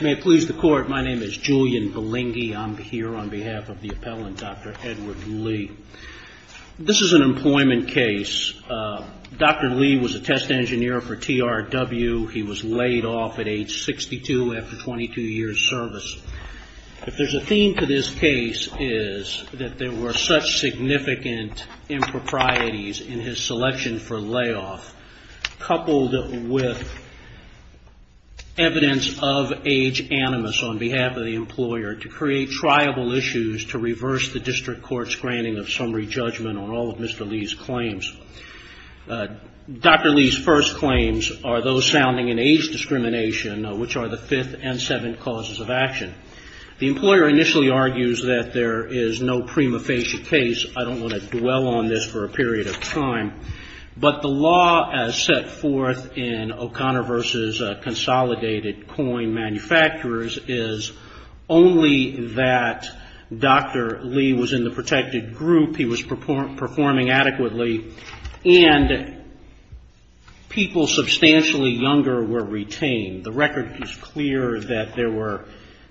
May it please the Court, my name is Julian Balingi. I'm here on behalf of the appellant, Dr. Edward Lee. This is an employment case. Dr. Lee was a test engineer for TRW. He was laid off at age 62 after 22 years' service. If there's a theme to this case, it's that there were such significant improprieties in his selection for layoff, coupled with evidence of age animus on behalf of the employer, to create triable issues to reverse the district court's granting of summary judgment on all of Mr. Lee's claims. Dr. Lee's first claims are those sounding in age discrimination, which are the fifth and seventh causes of action. The employer initially argues that there is no prima facie case. I don't want to dwell on this for a period of time. But the law as set forth in O'Connor v. Consolidated Coin Manufacturers is only that Dr. Lee was in the protected group, he was performing adequately, and people substantially younger were retained. The record is clear that there were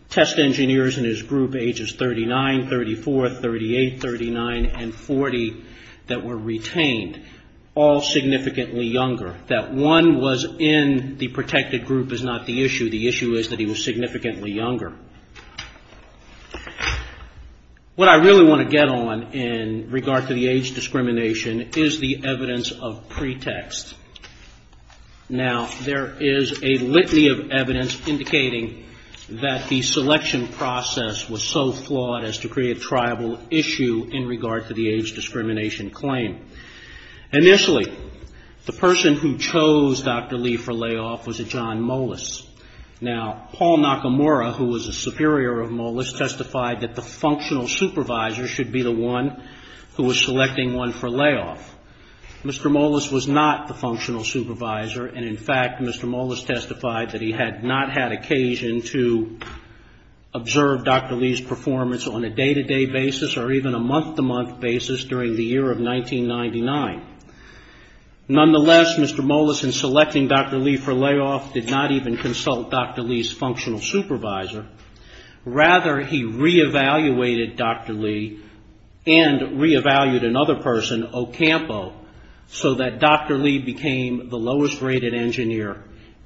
test engineers in his group ages 39, 34, 38, 39, and 40 that were retained, all significantly younger. That one was in the protected group is not the issue. The issue is that he was significantly younger. What I really want to get on in regard to the age discrimination is the evidence of pretext. Now, there is a litany of evidence indicating that the selection process was so flawed as to create a triable issue in regard to the age discrimination claim. Initially, the person who chose Dr. Lee for layoff was a John Mollis. Now, Paul Nakamura, who was a superior of Mollis, testified that the functional supervisor should be the one who was selecting one for layoff. Mr. Mollis was not the functional supervisor, and in fact, Mr. Mollis testified that he had not had occasion to observe Dr. Lee's performance on a day-to-day basis or even a month-to-month basis during the year of 1999. Nonetheless, Mr. Mollis, in selecting Dr. Lee for layoff, did not even consult Dr. Lee's functional supervisor. Rather, he re-evaluated Dr. Lee and re-evaluated another person, Ocampo, so that Dr. Lee became the lowest-rated engineer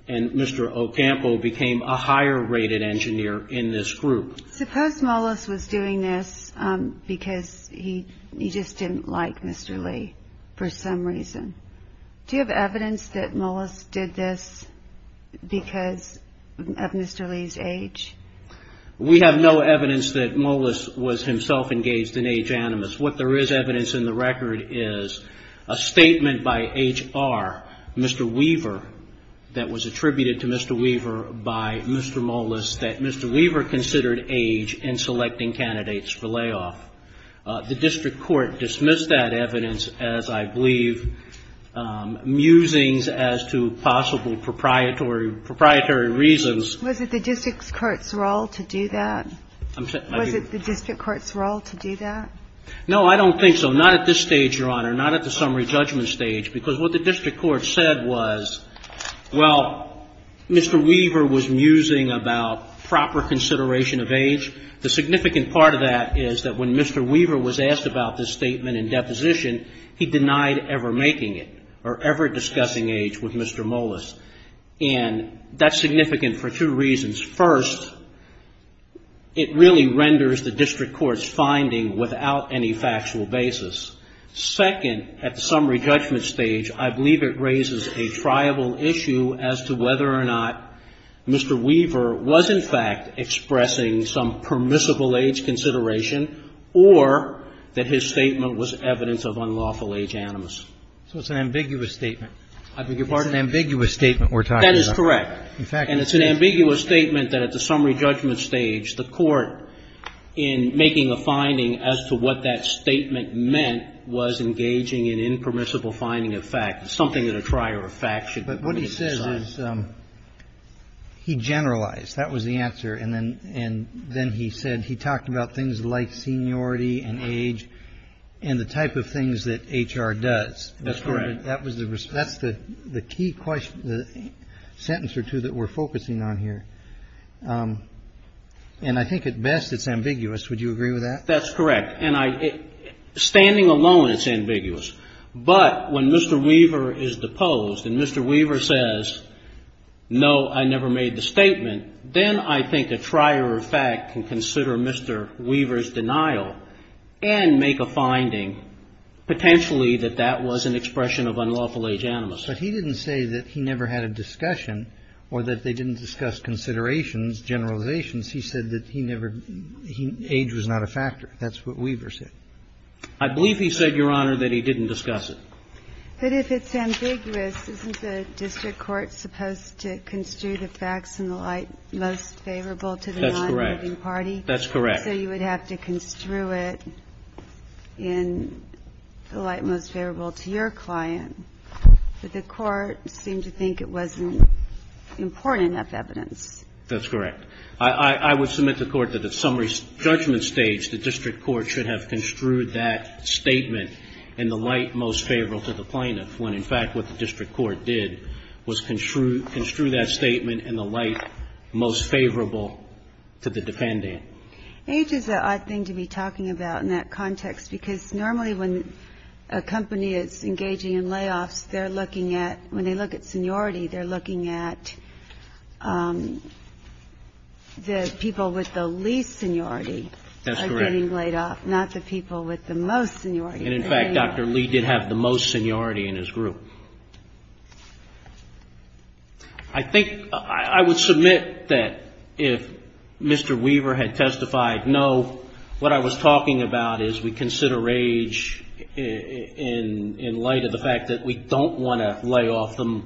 and Mr. Ocampo became a higher-rated engineer in this group. Suppose Mollis was doing this because he just didn't like Mr. Lee for some reason. Do you have evidence that Mollis did this because of Mr. Lee's age? We have no evidence that Mollis was himself engaged in age animus. What there is evidence in the record is a statement by HR, Mr. Weaver, that was attributed to Mr. Weaver by Mr. Mollis, that Mr. Weaver considered age in selecting candidates for layoff. The district court dismissed that evidence as, I believe, musings as to possible proprietary reasons. Was it the district court's role to do that? Was it the district court's role to do that? No, I don't think so. Not at this stage, Your Honor. Not at the summary judgment stage. Because what the district court said was, well, Mr. Weaver was musing about proper consideration of age. The significant part of that is that when Mr. Weaver was asked about this statement in deposition, he denied ever making it or ever discussing age with Mr. Mollis. And that's significant for two reasons. First, it really renders the district court's finding without any factual basis. Second, at the summary judgment stage, I believe it raises a triable issue as to whether or not Mr. Weaver was, in fact, expressing some permissible age consideration or that his statement was evidence of unlawful age animus. So it's an ambiguous statement. I beg your pardon? It's an ambiguous statement we're talking about. That is correct. In fact, it's an ambiguous statement that at the summary judgment stage, the court in making a finding as to what that statement meant was engaging in impermissible finding of fact. It's something that a trier of fact should be able to decide. But what he says is he generalized. That was the answer. And then he said he talked about things like seniority and age and the type of things that HR does. That's correct. That's the key sentence or two that we're focusing on here. And I think at best it's ambiguous. Would you agree with that? That's correct. And standing alone it's ambiguous. But when Mr. Weaver is deposed and Mr. Weaver says, no, I never made the statement, then I think a trier of fact can consider Mr. Weaver's denial and make a finding potentially that that was an expression of unlawful age animus. But he didn't say that he never had a discussion or that they didn't discuss considerations, generalizations. He said that he never – age was not a factor. That's what Weaver said. I believe he said, Your Honor, that he didn't discuss it. But if it's ambiguous, isn't the district court supposed to construe the facts in the light most favorable to the non-moving party? That's correct. That's correct. So you would have to construe it in the light most favorable to your client. But the Court seemed to think it wasn't important enough evidence. That's correct. I would submit to the Court that at summary judgment stage the district court should have construed that statement in the light most favorable to the plaintiff, when in fact what the district court did was construe that statement in the light most favorable to the defendant. Age is an odd thing to be talking about in that context, because normally when a company is engaging in layoffs, they're looking at – when they look at seniority, they're looking at the people with the least seniority. That's correct. Are getting laid off, not the people with the most seniority. And in fact, Dr. Lee did have the most seniority in his group. I think – I would submit that if Mr. Weaver had testified, no, what I was talking about is we consider age in light of the fact that we don't want to lay off the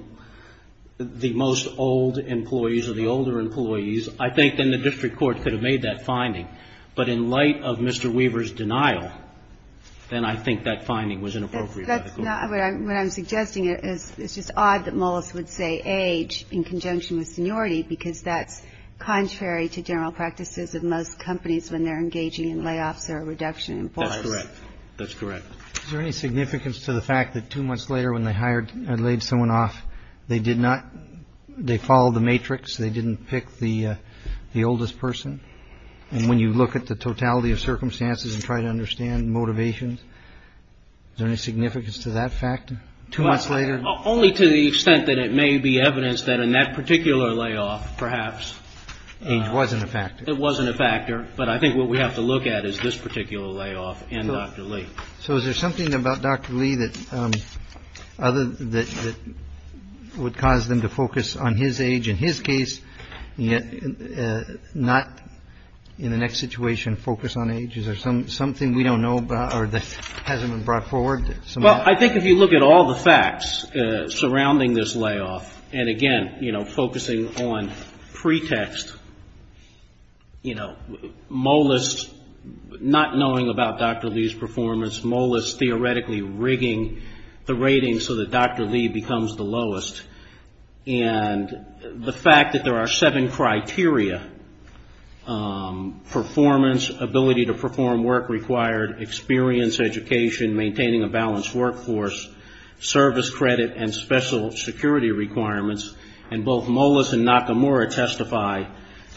most old employees or the older employees, I think then the district court could have made that finding. But in light of Mr. Weaver's denial, then I think that finding was inappropriate by the Court. No. What I'm suggesting is it's just odd that Mullis would say age in conjunction with seniority, because that's contrary to general practices of most companies when they're engaging in layoffs or a reduction in force. That's correct. That's correct. Is there any significance to the fact that two months later when they hired or laid someone off, they did not – they followed the matrix, they didn't pick the oldest person? And when you look at the totality of circumstances and try to understand motivations, is there any significance to that fact two months later? Only to the extent that it may be evidence that in that particular layoff, perhaps. Age wasn't a factor. It wasn't a factor. But I think what we have to look at is this particular layoff in Dr. Lee. So is there something about Dr. Lee that other – that would cause them to focus on his age in his case, not in the next situation focus on age? Is there something we don't know about or that hasn't been brought forward? Well, I think if you look at all the facts surrounding this layoff, and again, you know, focusing on pretext, you know, Mullis not knowing about Dr. Lee's performance, Mullis theoretically rigging the rating so that Dr. Lee becomes the lowest, and the fact that there are seven criteria, performance, ability to perform work required, experience, education, maintaining a balanced workforce, service credit, and special security requirements, and both Mullis and Nakamura testify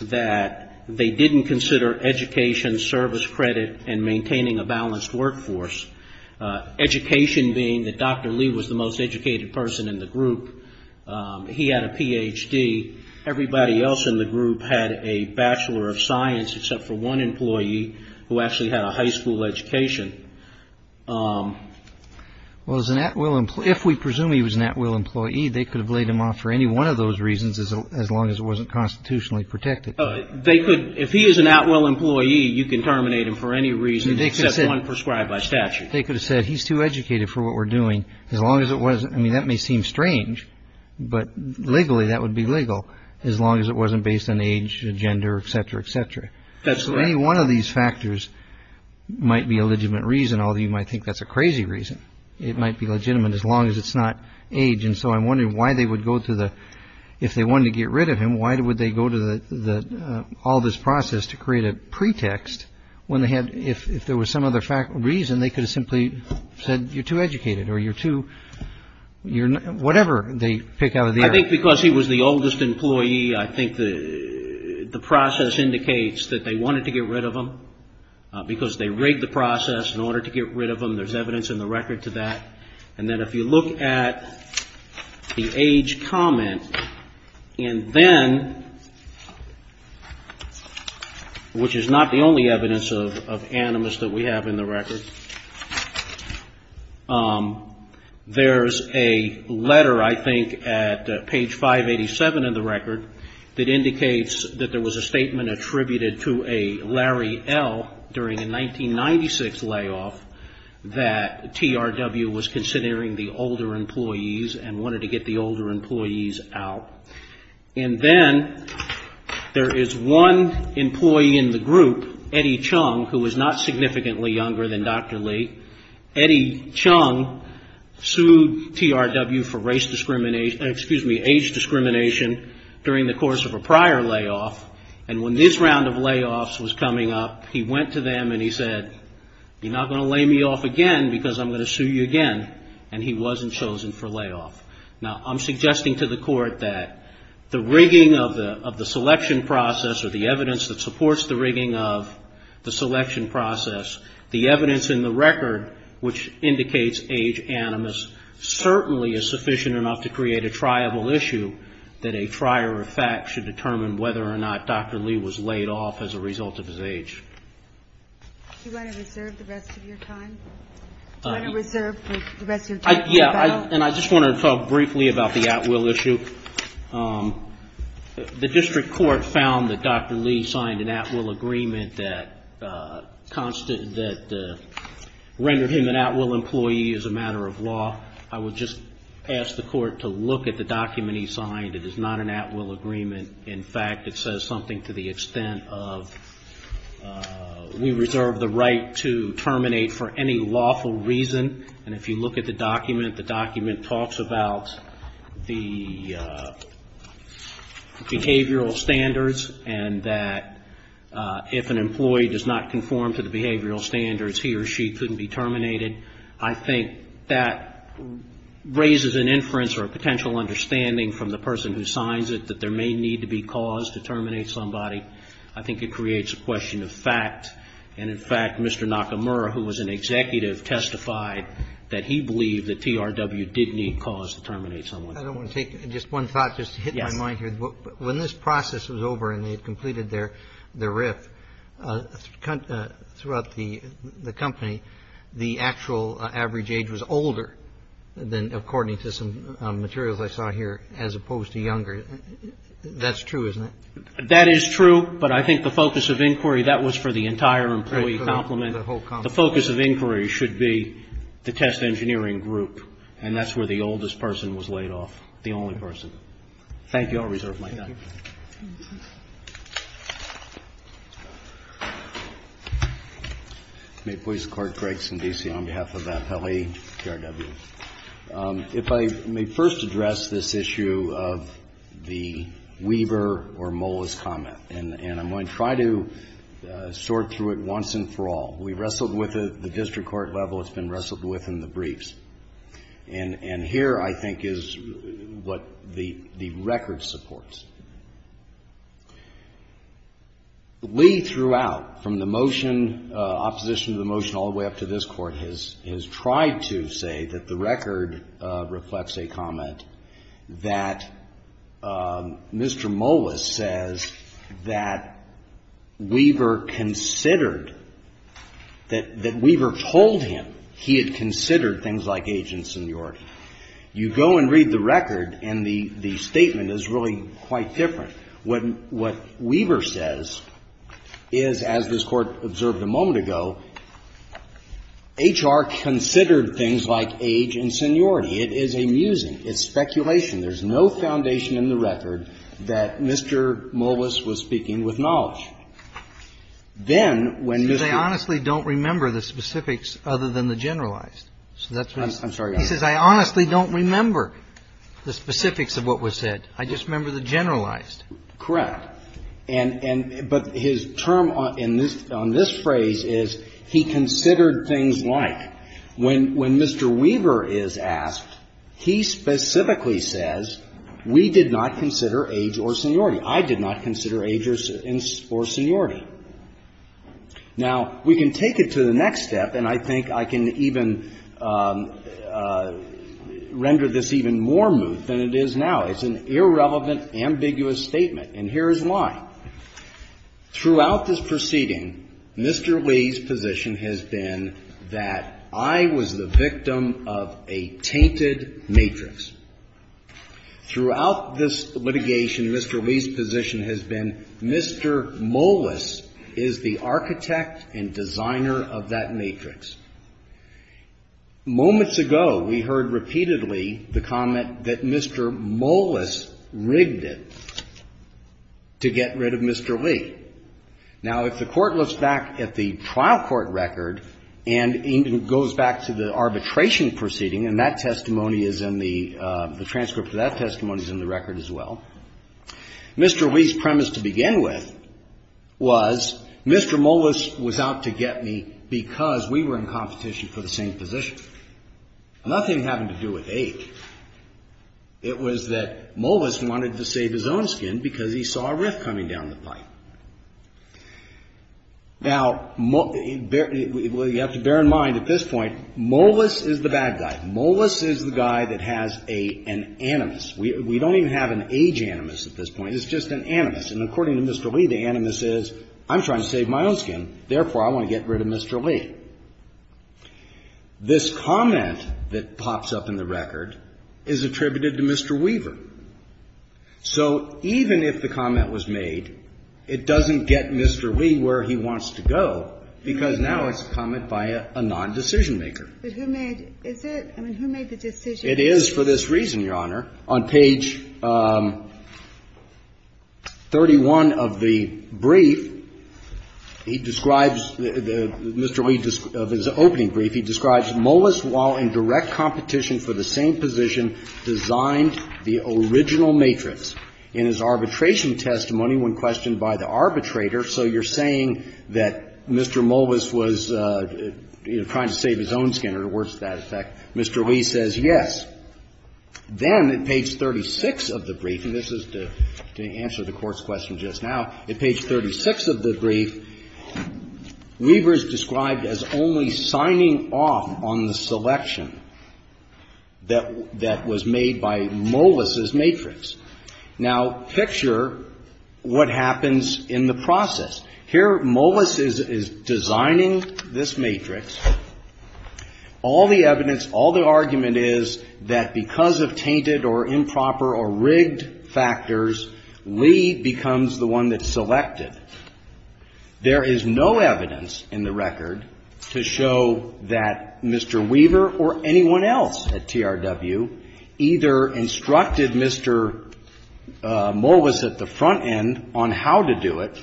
that they didn't consider education, service credit, and maintaining a balanced workforce. Education being that Dr. Lee was the most educated person in the group. He had a Ph.D. Everybody else in the group had a Bachelor of Science except for one employee who actually had a high school education. Well, if we presume he was an at-will employee, they could have laid him off for any one of those reasons as long as it wasn't constitutionally protected. If he is an at-will employee, you can terminate him for any reason except one prescribed by statute. They could have said he's too educated for what we're doing as long as it wasn't, I mean, that may seem strange, but legally that would be legal as long as it wasn't based on age, gender, et cetera, et cetera. Any one of these factors might be a legitimate reason, although you might think that's a crazy reason. It might be legitimate as long as it's not age, and so I'm wondering why they would go to the, if they wanted to get rid of him, why would they go to all this process to create a pretext when they had, if there was some other reason, they could have simply said you're too educated or you're too, whatever they pick out of the air. I think because he was the oldest employee, I think the process indicates that they wanted to get rid of him because they rigged the process in order to get rid of him. There's evidence in the record to that. And then if you look at the age comment, and then, which is not the only evidence of animus that we have in the record, there's a letter, I think, at page 587 of the record that indicates that there was a statement attributed to a Larry L. during a 1996 layoff that TRW was considering the older employees and wanted to get the older employees out. And then there is one employee in the group, Eddie Chung, who was not significantly younger than Dr. Lee. Eddie Chung sued TRW for race discrimination, excuse me, age discrimination during the course of a prior layoff, and when this round of layoffs was coming up, he went to them and he said, you're not going to lay me off again because I'm going to sue you again, and he wasn't chosen for layoff. Now, I'm suggesting to the court that the rigging of the selection process or the evidence that supports the rigging of the selection process, the evidence in the record, which indicates age animus, certainly is sufficient enough to create a triable issue that a trier of facts should determine whether or not Dr. Lee was laid off as a result of his age. Do you want to reserve the rest of your time? Do you want to reserve the rest of your time? Yeah, and I just wanted to talk briefly about the at-will issue. The district court found that Dr. Lee signed an at-will agreement that rendered him an at-will employee as a matter of law. I would just ask the court to look at the document he signed. It is not an at-will agreement. In fact, it says something to the extent of we reserve the right to terminate for any lawful reason, and if you look at the document, the document talks about the behavioral standards and that if an employee does not conform to the behavioral standards, he or she couldn't be terminated. I think that raises an inference or a potential understanding from the person who signs it that there may need to be cause to terminate somebody. I think it creates a question of fact. And, in fact, Mr. Nakamura, who was an executive, testified that he believed that TRW did need cause to terminate someone. I don't want to take just one thought, just to hit my mind here. When this process was over and they had completed their RIF, throughout the company, the actual average age was older than according to some materials I saw here as opposed to younger. That's true, isn't it? That is true, but I think the focus of inquiry, that was for the entire employee complement. The focus of inquiry should be the test engineering group, and that's where the oldest person was laid off, the only person. Thank you. I'll reserve my time. May it please the Court. Gregson, D.C., on behalf of FLE, TRW. If I may first address this issue of the Weaver or Molas comment. And I'm going to try to sort through it once and for all. We wrestled with it at the district court level. It's been wrestled with in the briefs. And here, I think, is what the record supports. Lee throughout, from the motion, opposition to the motion all the way up to this Court, has tried to say that the record reflects a comment that Mr. Molas says that Weaver considered, that Weaver told him he had considered things like agency, age, and seniority. You go and read the record, and the statement is really quite different. What Weaver says is, as this Court observed a moment ago, HR considered things like age and seniority. It is a musing. It's speculation. There's no foundation in the record that Mr. Molas was speaking with knowledge. Then, when Mr. Molas was speaking with knowledge, then when Mr. Molas was speaking with knowledge, he says, I honestly don't remember the specifics of what was said. I just remember the generalized. Correct. And his term on this phrase is, he considered things like. When Mr. Weaver is asked, he specifically says, we did not consider age or seniority. I did not consider age or seniority. Now, we can take it to the next step, and I think I can even render this even more moot than it is now. It's an irrelevant, ambiguous statement. And here is why. Throughout this proceeding, Mr. Lee's position has been that I was the victim of a tainted matrix. Throughout this litigation, Mr. Lee's position has been Mr. Molas is the architect and designer of that matrix. Moments ago, we heard repeatedly the comment that Mr. Molas rigged it to get rid of Mr. Lee. Now, if the Court looks back at the trial court record and goes back to the arbitration proceeding, and that testimony is in the, the transcript of that testimony is in the record as well, Mr. Lee's premise to begin with was Mr. Molas was out to get me because we were in competition for the same position. Nothing to do with age. It was that Molas wanted to save his own skin because he saw a riff coming down the pipe. Now, you have to bear in mind at this point, Molas is the bad guy. Molas is the guy that has an animus. We don't even have an age animus at this point. It's just an animus. And according to Mr. Lee, the animus is I'm trying to save my own skin, therefore I want to get rid of Mr. Lee. This comment that pops up in the record is attributed to Mr. Weaver. So even if the comment was made, it doesn't get Mr. Lee where he wants to go because now it's a comment by a nondecision maker. But who made, is it? I mean, who made the decision? It is for this reason, Your Honor. On page 31 of the brief, he describes, Mr. Lee, of his opening brief, he describes Molas, while in direct competition for the same position, designed the original matrix in his arbitration testimony when questioned by the arbitrator. So you're saying that Mr. Molas was, you know, trying to save his own skin or worse to that effect. Mr. Lee says yes. Then at page 36 of the brief, and this is to answer the Court's question just now, at page 36 of the brief, Weaver is described as only signing off on the selection that was made by Molas's matrix. Now, picture what happens in the process. Here, Molas is designing this matrix. All the evidence, all the argument is that because of tainted or improper or rigged factors, Lee becomes the one that's selected. There is no evidence in the record to show that Mr. Weaver or anyone else at TRW either instructed Mr. Molas at the front end on how to do it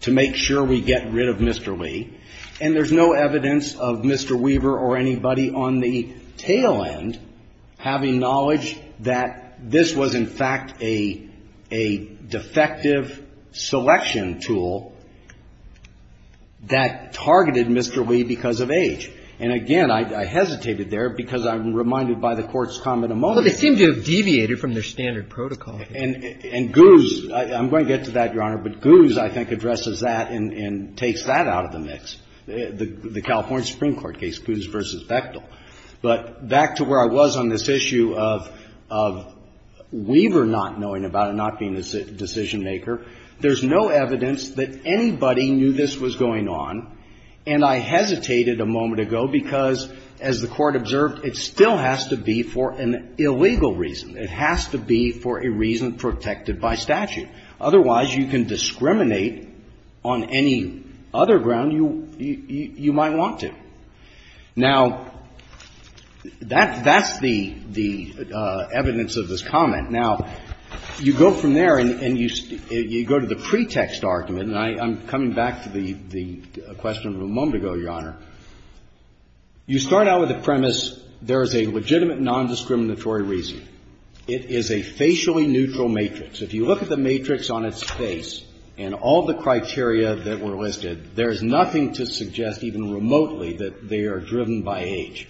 to make sure we get rid of Mr. Lee, and there's no evidence of Mr. Weaver or anybody on the tail end having knowledge that this was in fact a defective selection tool that targeted Mr. Lee because of age. And again, I hesitated there because I'm reminded by the Court's comment of Molas. But it seemed to have deviated from their standard protocol. And Goose, I'm going to get to that, Your Honor, but Goose, I think, addresses that and takes that out of the mix, the California Supreme Court case, Goose v. Bechtel. But back to where I was on this issue of Weaver not knowing about it, not being a decision-maker, there's no evidence that anybody knew this was going on, and I hesitated a moment ago because, as the Court observed, it still has to be for an illegal reason. It has to be for a reason protected by statute. Otherwise, you can discriminate on any other ground you might want to. Now, that's the evidence of this comment. Now, you go from there and you go to the pretext argument, and I'm coming back to the question from a moment ago, Your Honor. You start out with the premise there is a legitimate nondiscriminatory reason. It is a facially neutral matrix. If you look at the matrix on its face and all the criteria that were listed, there is nothing to suggest even remotely that they are driven by age.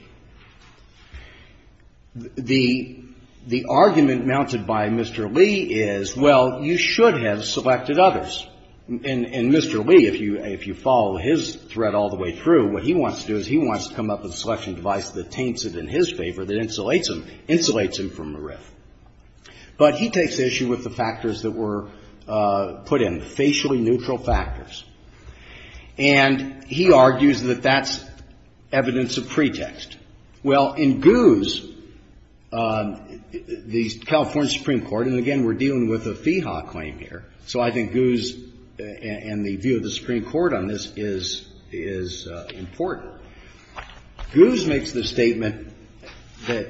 The argument mounted by Mr. Lee is, well, you should have selected others. And Mr. Lee, if you follow his thread all the way through, what he wants to do is he wants to come up with a selection device that taints it in his favor, that insulates him, insulates him from the rift. But he takes issue with the factors that were put in, facially neutral factors. And he argues that that's evidence of pretext. Well, in Guz, the California Supreme Court, and again, we're dealing with a FIHA claim here, so I think Guz and the view of the Supreme Court on this is important. Guz makes the statement that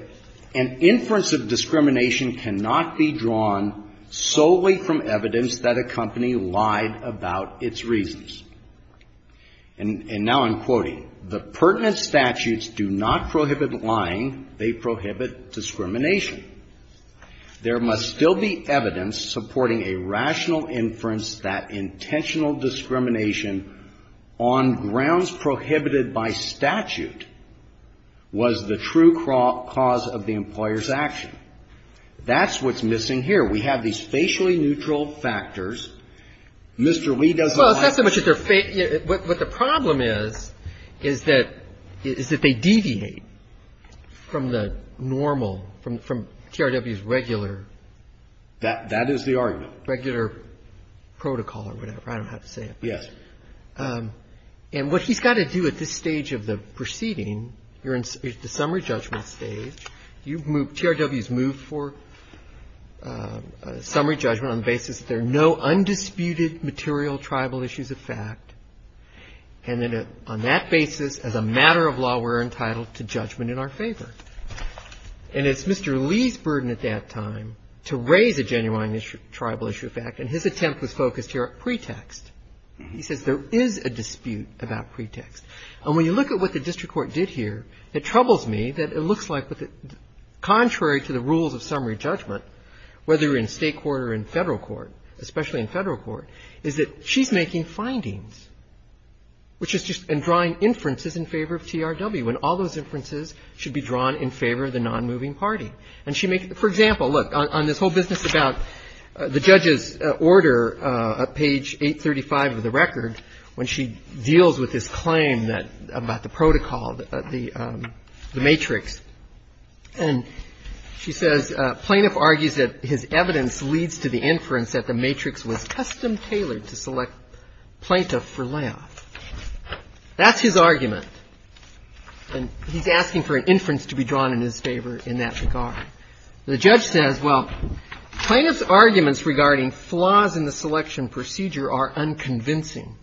an inference of discrimination cannot be drawn solely from evidence that a company lied about its reasons. And now I'm quoting. The pertinent statutes do not prohibit lying. They prohibit discrimination. There must still be evidence supporting a rational inference that intentional discrimination on grounds prohibited by statute was the true cause of the employer's action. That's what's missing here. We have these facially neutral factors. Mr. Lee doesn't lie. Well, it's not so much that they're facial. What the problem is, is that they deviate from the normal, from TRW's regular. That is the argument. Regular protocol or whatever. I don't know how to say it. Yes. And what he's got to do at this stage of the proceeding, you're in the summary judgment stage. You've moved, TRW's moved for summary judgment on the basis that there are no undisputed material tribal issues of fact. And then on that basis, as a matter of law, we're entitled to judgment in our favor. And it's Mr. Lee's burden at that time to raise a genuine tribal issue of fact, and his attempt was focused here at pretext. He says there is a dispute about pretext. And when you look at what the district court did here, it troubles me that it looks like contrary to the rules of summary judgment, whether in State court or in Federal court, especially in Federal court, is that she's making findings, which is just in drawing inferences in favor of TRW, and all those inferences should be drawn in favor of the nonmoving party. And she makes, for example, look, on this whole business about the judge's order, page 835 of the record, when she deals with this claim about the protocol, the matrix, and she says plaintiff argues that his evidence leads to the inference that the matrix was custom-tailored to select plaintiff for layoff. That's his argument, and he's asking for an inference to be drawn in his favor in that regard. The judge says, well, plaintiff's arguments regarding flaws in the selection procedure are unconvincing.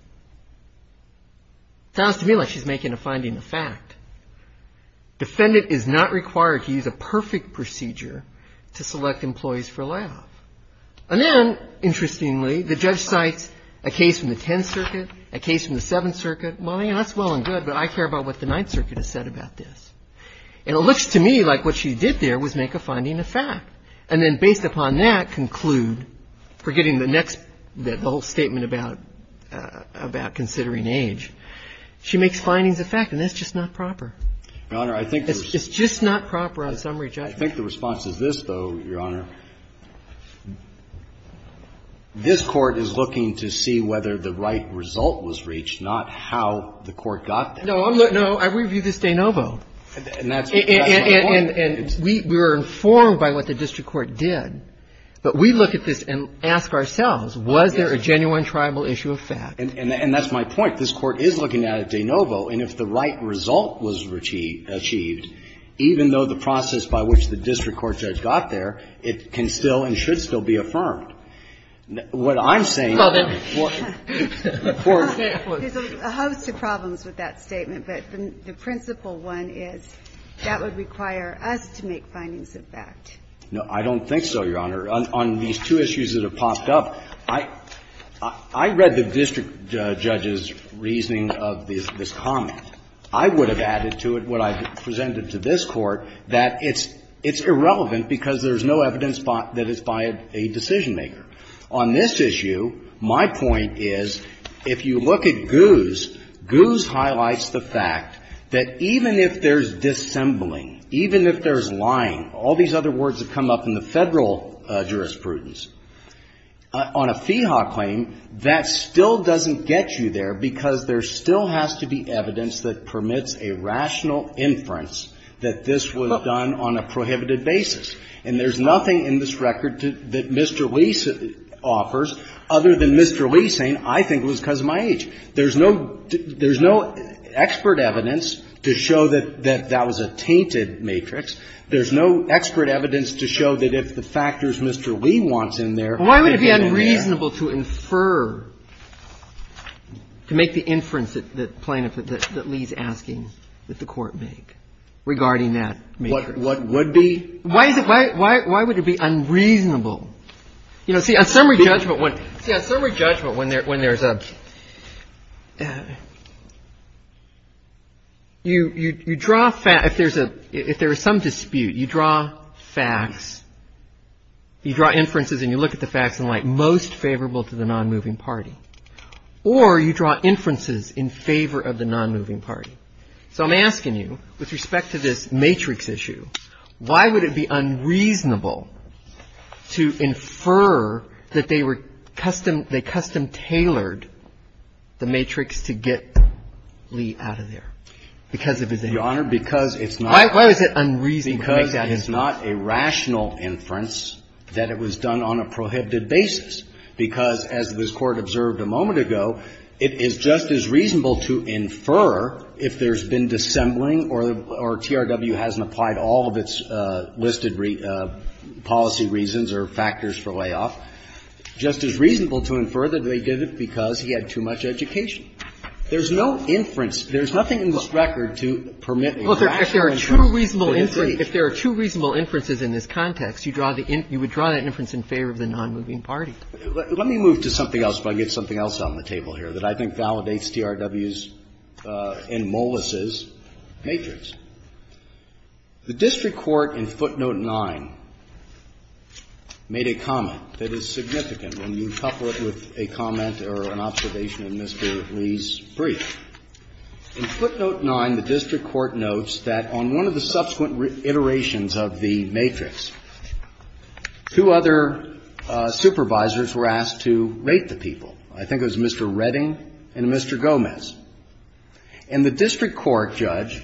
Sounds to me like she's making a finding of fact. Defendant is not required to use a perfect procedure to select employees for layoff. And then, interestingly, the judge cites a case from the 10th Circuit, a case from the 7th Circuit. Well, that's well and good, but I care about what the 9th Circuit has said about this. And it looks to me like what she did there was make a finding of fact, and then, based upon that, conclude, forgetting the next, the whole statement about considering age. She makes findings of fact, and that's just not proper. It's just not proper on summary judgment. I think the response is this, though, Your Honor. This Court is looking to see whether the right result was reached, not how the Court got that. No, I review this de novo. And that's my point. And we were informed by what the district court did. But we look at this and ask ourselves, was there a genuine tribal issue of fact? And that's my point. This Court is looking at it de novo. And if the right result was achieved, even though the process by which the district court judge got there, it can still and should still be affirmed. What I'm saying is that what the Court said was true. It is a host of problems with that statement. But the principal one is that would require us to make findings of fact. No, I don't think so, Your Honor. On these two issues that have popped up, I read the district judge's reasoning of this comment. I would have added to it what I presented to this Court, that it's irrelevant because there's no evidence that it's by a decision-maker. On this issue, my point is, if you look at Goose, Goose highlights the fact that even if there's dissembling, even if there's lying, all these other words have come up in the Federal jurisprudence, on a FEHA claim, that still doesn't get you there because there still has to be evidence that permits a rational inference that this was done on a prohibited basis. And there's nothing in this record that Mr. Lee offers, other than Mr. Lee saying, I think it was because of my age. There's no expert evidence to show that that was a tainted matrix. There's no expert evidence to show that if the factors Mr. Lee wants in there, it could have been there. Why would it be unreasonable to infer, to make the inference that Lee's asking that the Court make regarding that matrix? What would be? Why is it? Why would it be unreasonable? You know, see, on summary judgment, when there's a – you draw – if there's a – if there is some dispute, you draw facts, you draw inferences, and you look at the facts and like, most favorable to the nonmoving party. Or you draw inferences in favor of the nonmoving party. So I'm asking you, with respect to this matrix issue, why would it be unreasonable to infer that they were custom – they custom-tailored the matrix to get Lee out of there because of his age? Why is it unreasonable to make that inference? Because it's not a rational inference that it was done on a prohibited basis. Because, as this Court observed a moment ago, it is just as reasonable to infer if there's been dissembling or TRW hasn't applied all of its listed policy reasons or factors for layoff, just as reasonable to infer that they did it because he had too much education. There's no inference. There's nothing in this record to permit a rational inference of his age. If there are two reasonable – if there are two reasonable inferences in this context, you draw the – you would draw that inference in favor of the nonmoving party. Let me move to something else before I get something else on the table here that I think validates TRW's and Mollis' matrix. The district court in footnote 9 made a comment that is significant when you couple it with a comment or an observation in Mr. Lee's brief. In footnote 9, the district court notes that on one of the subsequent iterations of the matrix, two other supervisors were asked to rate the people. I think it was Mr. Redding and Mr. Gomez. And the district court judge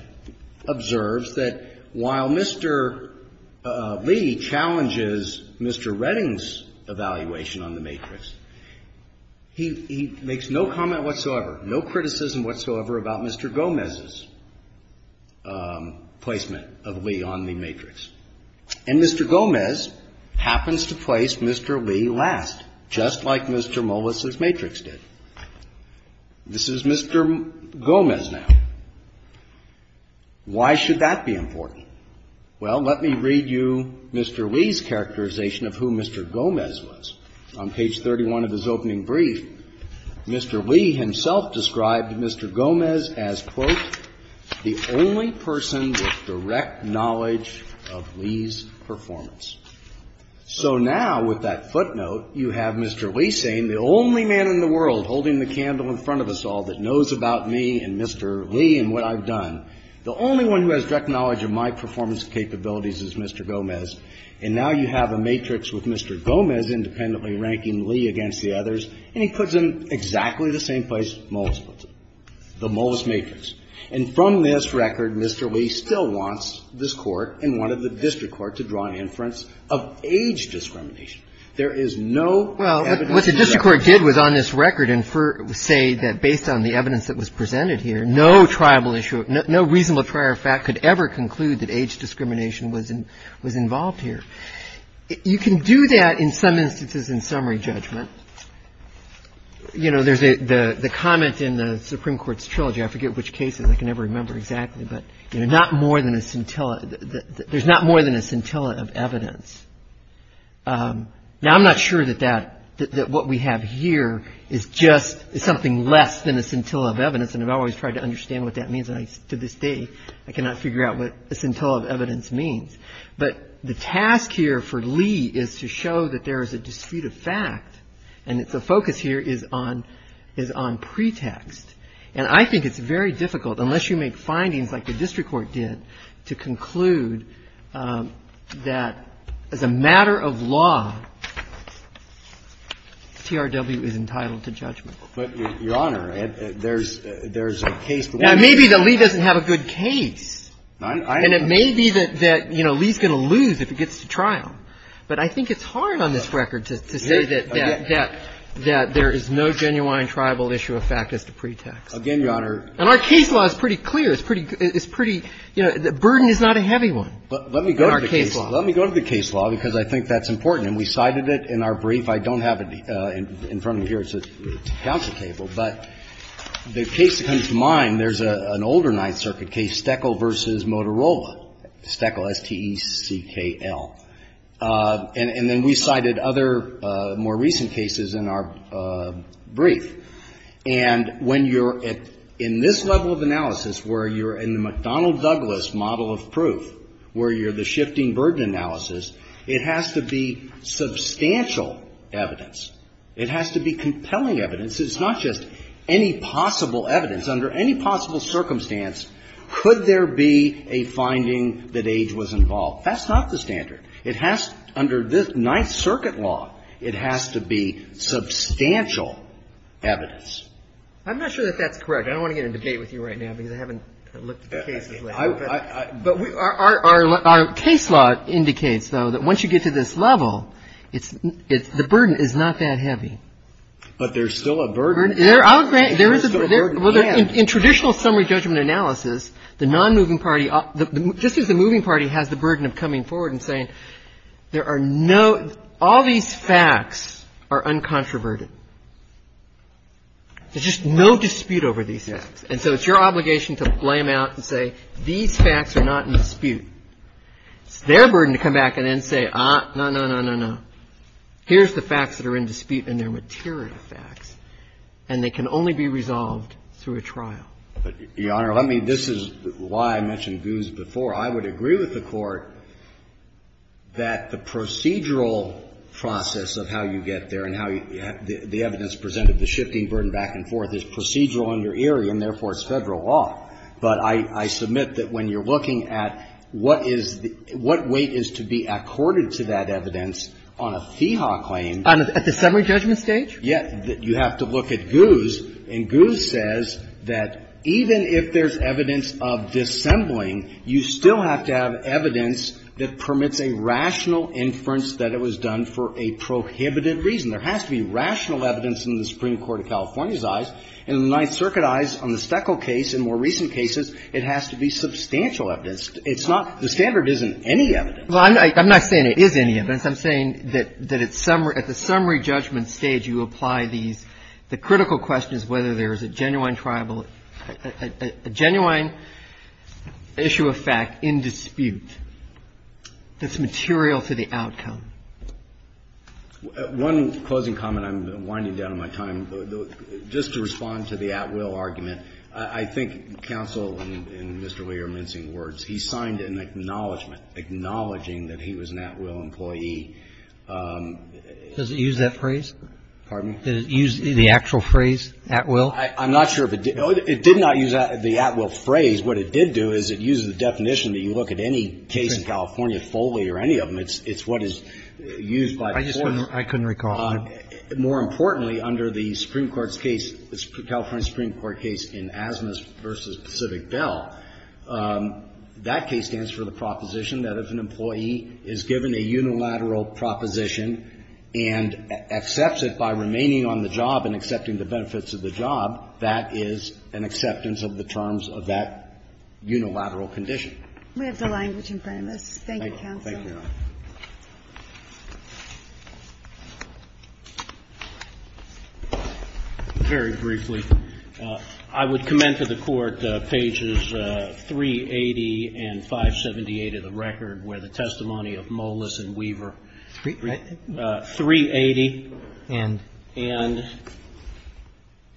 observes that while Mr. Lee challenges Mr. Redding's evaluation on the matrix, he makes no comment whatsoever, no criticism whatsoever about Mr. Gomez's placement of Lee on the matrix. And Mr. Gomez happens to place Mr. Lee last, just like Mr. Mollis' matrix did. This is Mr. Gomez now. Why should that be important? Well, let me read you Mr. Lee's characterization of who Mr. Gomez was. On page 31 of his opening brief, Mr. Lee himself described Mr. Gomez as, quote, the only person with direct knowledge of Lee's performance. So now with that footnote, you have Mr. Lee saying the only man in the world holding the candle in front of us all that knows about me and Mr. Lee and what I've done, the only one who has direct knowledge of my performance capabilities is Mr. Gomez. And now you have a matrix with Mr. Gomez independently ranking Lee against the others. And he puts him exactly the same place Mollis puts him, the Mollis matrix. And from this record, Mr. Lee still wants this Court and wanted the district court to draw inference of age discrimination. There is no evidence of that. Well, what the district court did was on this record infer or say that based on the evidence that was presented here, no tribal issue, no reasonable prior fact could ever conclude that age discrimination was involved here. You can do that in some instances in summary judgment. You know, there's the comment in the Supreme Court's trilogy. I forget which cases. I can never remember exactly. But not more than a scintilla. There's not more than a scintilla of evidence. Now, I'm not sure that that, that what we have here is just something less than a scintilla of evidence. And I've always tried to understand what that means. And I, to this day, I cannot figure out what a scintilla of evidence means. But the task here for Lee is to show that there is a dispute of fact and that the focus here is on, is on pretext. And I think it's very difficult, unless you make findings like the district court did, to conclude that as a matter of law, TRW is entitled to judgment. But, Your Honor, there's, there's a case. Now, maybe that Lee doesn't have a good case. And it may be that, you know, Lee's going to lose if he gets to trial. But I think it's hard on this record to say that, that, that there is no genuine tribal issue of fact as to pretext. Again, Your Honor. And our case law is pretty clear. It's pretty, it's pretty, you know, the burden is not a heavy one in our case law. Let me go to the case law, because I think that's important. And we cited it in our brief. I don't have it in front of me here. It's at the council table. But the case that comes to mind, there's an older Ninth Circuit case, Steckel v. Motorola. Steckel, S-T-E-C-K-L. And then we cited other more recent cases in our brief. And when you're at, in this level of analysis, where you're in the McDonnell-Douglas model of proof, where you're the shifting burden analysis, it has to be substantial evidence. It has to be compelling evidence. It's not just any possible evidence. Under any possible circumstance, could there be a finding that age was involved? That's not the standard. It has, under Ninth Circuit law, it has to be substantial evidence. I'm not sure that that's correct. I don't want to get in a debate with you right now, because I haven't looked at the cases lately. But our case law indicates, though, that once you get to this level, it's, the burden is not that heavy. But there's still a burden. There's still a burden, yes. In traditional summary judgment analysis, the nonmoving party, just as the moving party has the burden of coming forward and saying, there are no, all these facts are uncontroverted. There's just no dispute over these facts. And so it's your obligation to blame out and say, these facts are not in dispute. It's their burden to come back and then say, ah, no, no, no, no, no. Here's the facts that are in dispute, and they're material facts. And they can only be resolved through a trial. But, Your Honor, let me, this is why I mentioned Goos before. I would agree with the Court that the procedural process of how you get there and how you, the evidence presented, the shifting burden back and forth is procedural in your area, and therefore it's Federal law. But I submit that when you're looking at what is the, what weight is to be accorded to that evidence on a fee hawk claim. At the summary judgment stage? Yes. You have to look at Goos. And Goos says that even if there's evidence of dissembling, you still have to have evidence that permits a rational inference that it was done for a prohibited reason. There has to be rational evidence in the Supreme Court of California's eyes. In the Ninth Circuit eyes on the Steckel case and more recent cases, it has to be substantial evidence. It's not, the standard isn't any evidence. Well, I'm not saying it is any evidence. I'm saying that at the summary judgment stage, you apply these, the critical question is whether there is a genuine tribal, a genuine issue of fact in dispute that's material to the outcome. One closing comment. I'm winding down on my time. Just to respond to the at-will argument, I think counsel and Mr. Lee are mincing words. He signed an acknowledgment acknowledging that he was an at-will employee. Does it use that phrase? Pardon? Did it use the actual phrase at-will? I'm not sure if it did. It did not use the at-will phrase. What it did do is it uses the definition that you look at any case in California, Foley or any of them. It's what is used by the courts. I just couldn't recall. More importantly, under the Supreme Court's case, the California Supreme Court case in Asmus v. Pacific Bell, that case stands for the proposition that if an employee is given a unilateral proposition and accepts it by remaining on the job and accepting the benefits of the job, that is an acceptance of the terms of that unilateral condition. We have the language in front of us. Thank you, counsel. Thank you, Your Honor. Very briefly, I would commend to the Court pages 380 and 578 of the record where the testimony of Molis and Weaver, 380 and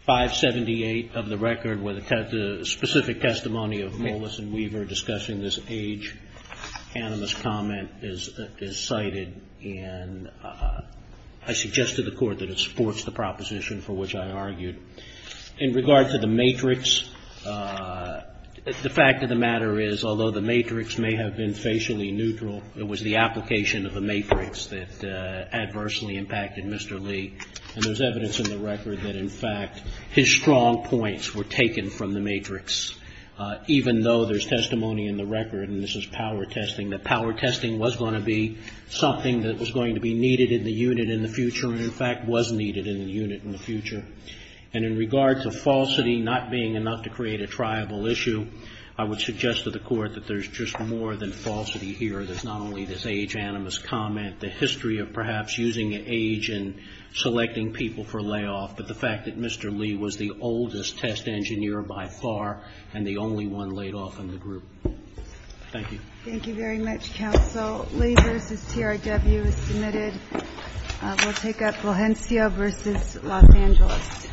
578 of the record where the specific testimony of Molis and Weaver discussing this age, anonymous comment, is the case that we have here. And I suggest to the Court that it supports the proposition for which I argued. In regard to the matrix, the fact of the matter is, although the matrix may have been facially neutral, it was the application of the matrix that adversely impacted Mr. Lee. And there's evidence in the record that, in fact, his strong points were taken from the matrix. Even though there's testimony in the record, and this is power testing, that power testing was not necessarily something that was going to be needed in the unit in the future and, in fact, was needed in the unit in the future. And in regard to falsity not being enough to create a triable issue, I would suggest to the Court that there's just more than falsity here. There's not only this age, anonymous comment, the history of perhaps using age and selecting people for layoff, but the fact that Mr. Lee was the oldest test engineer by far and the only one laid off in the group. Thank you. Thank you very much, Counsel. Lee v. TRW is submitted. We'll take up Valencia v. Los Angeles.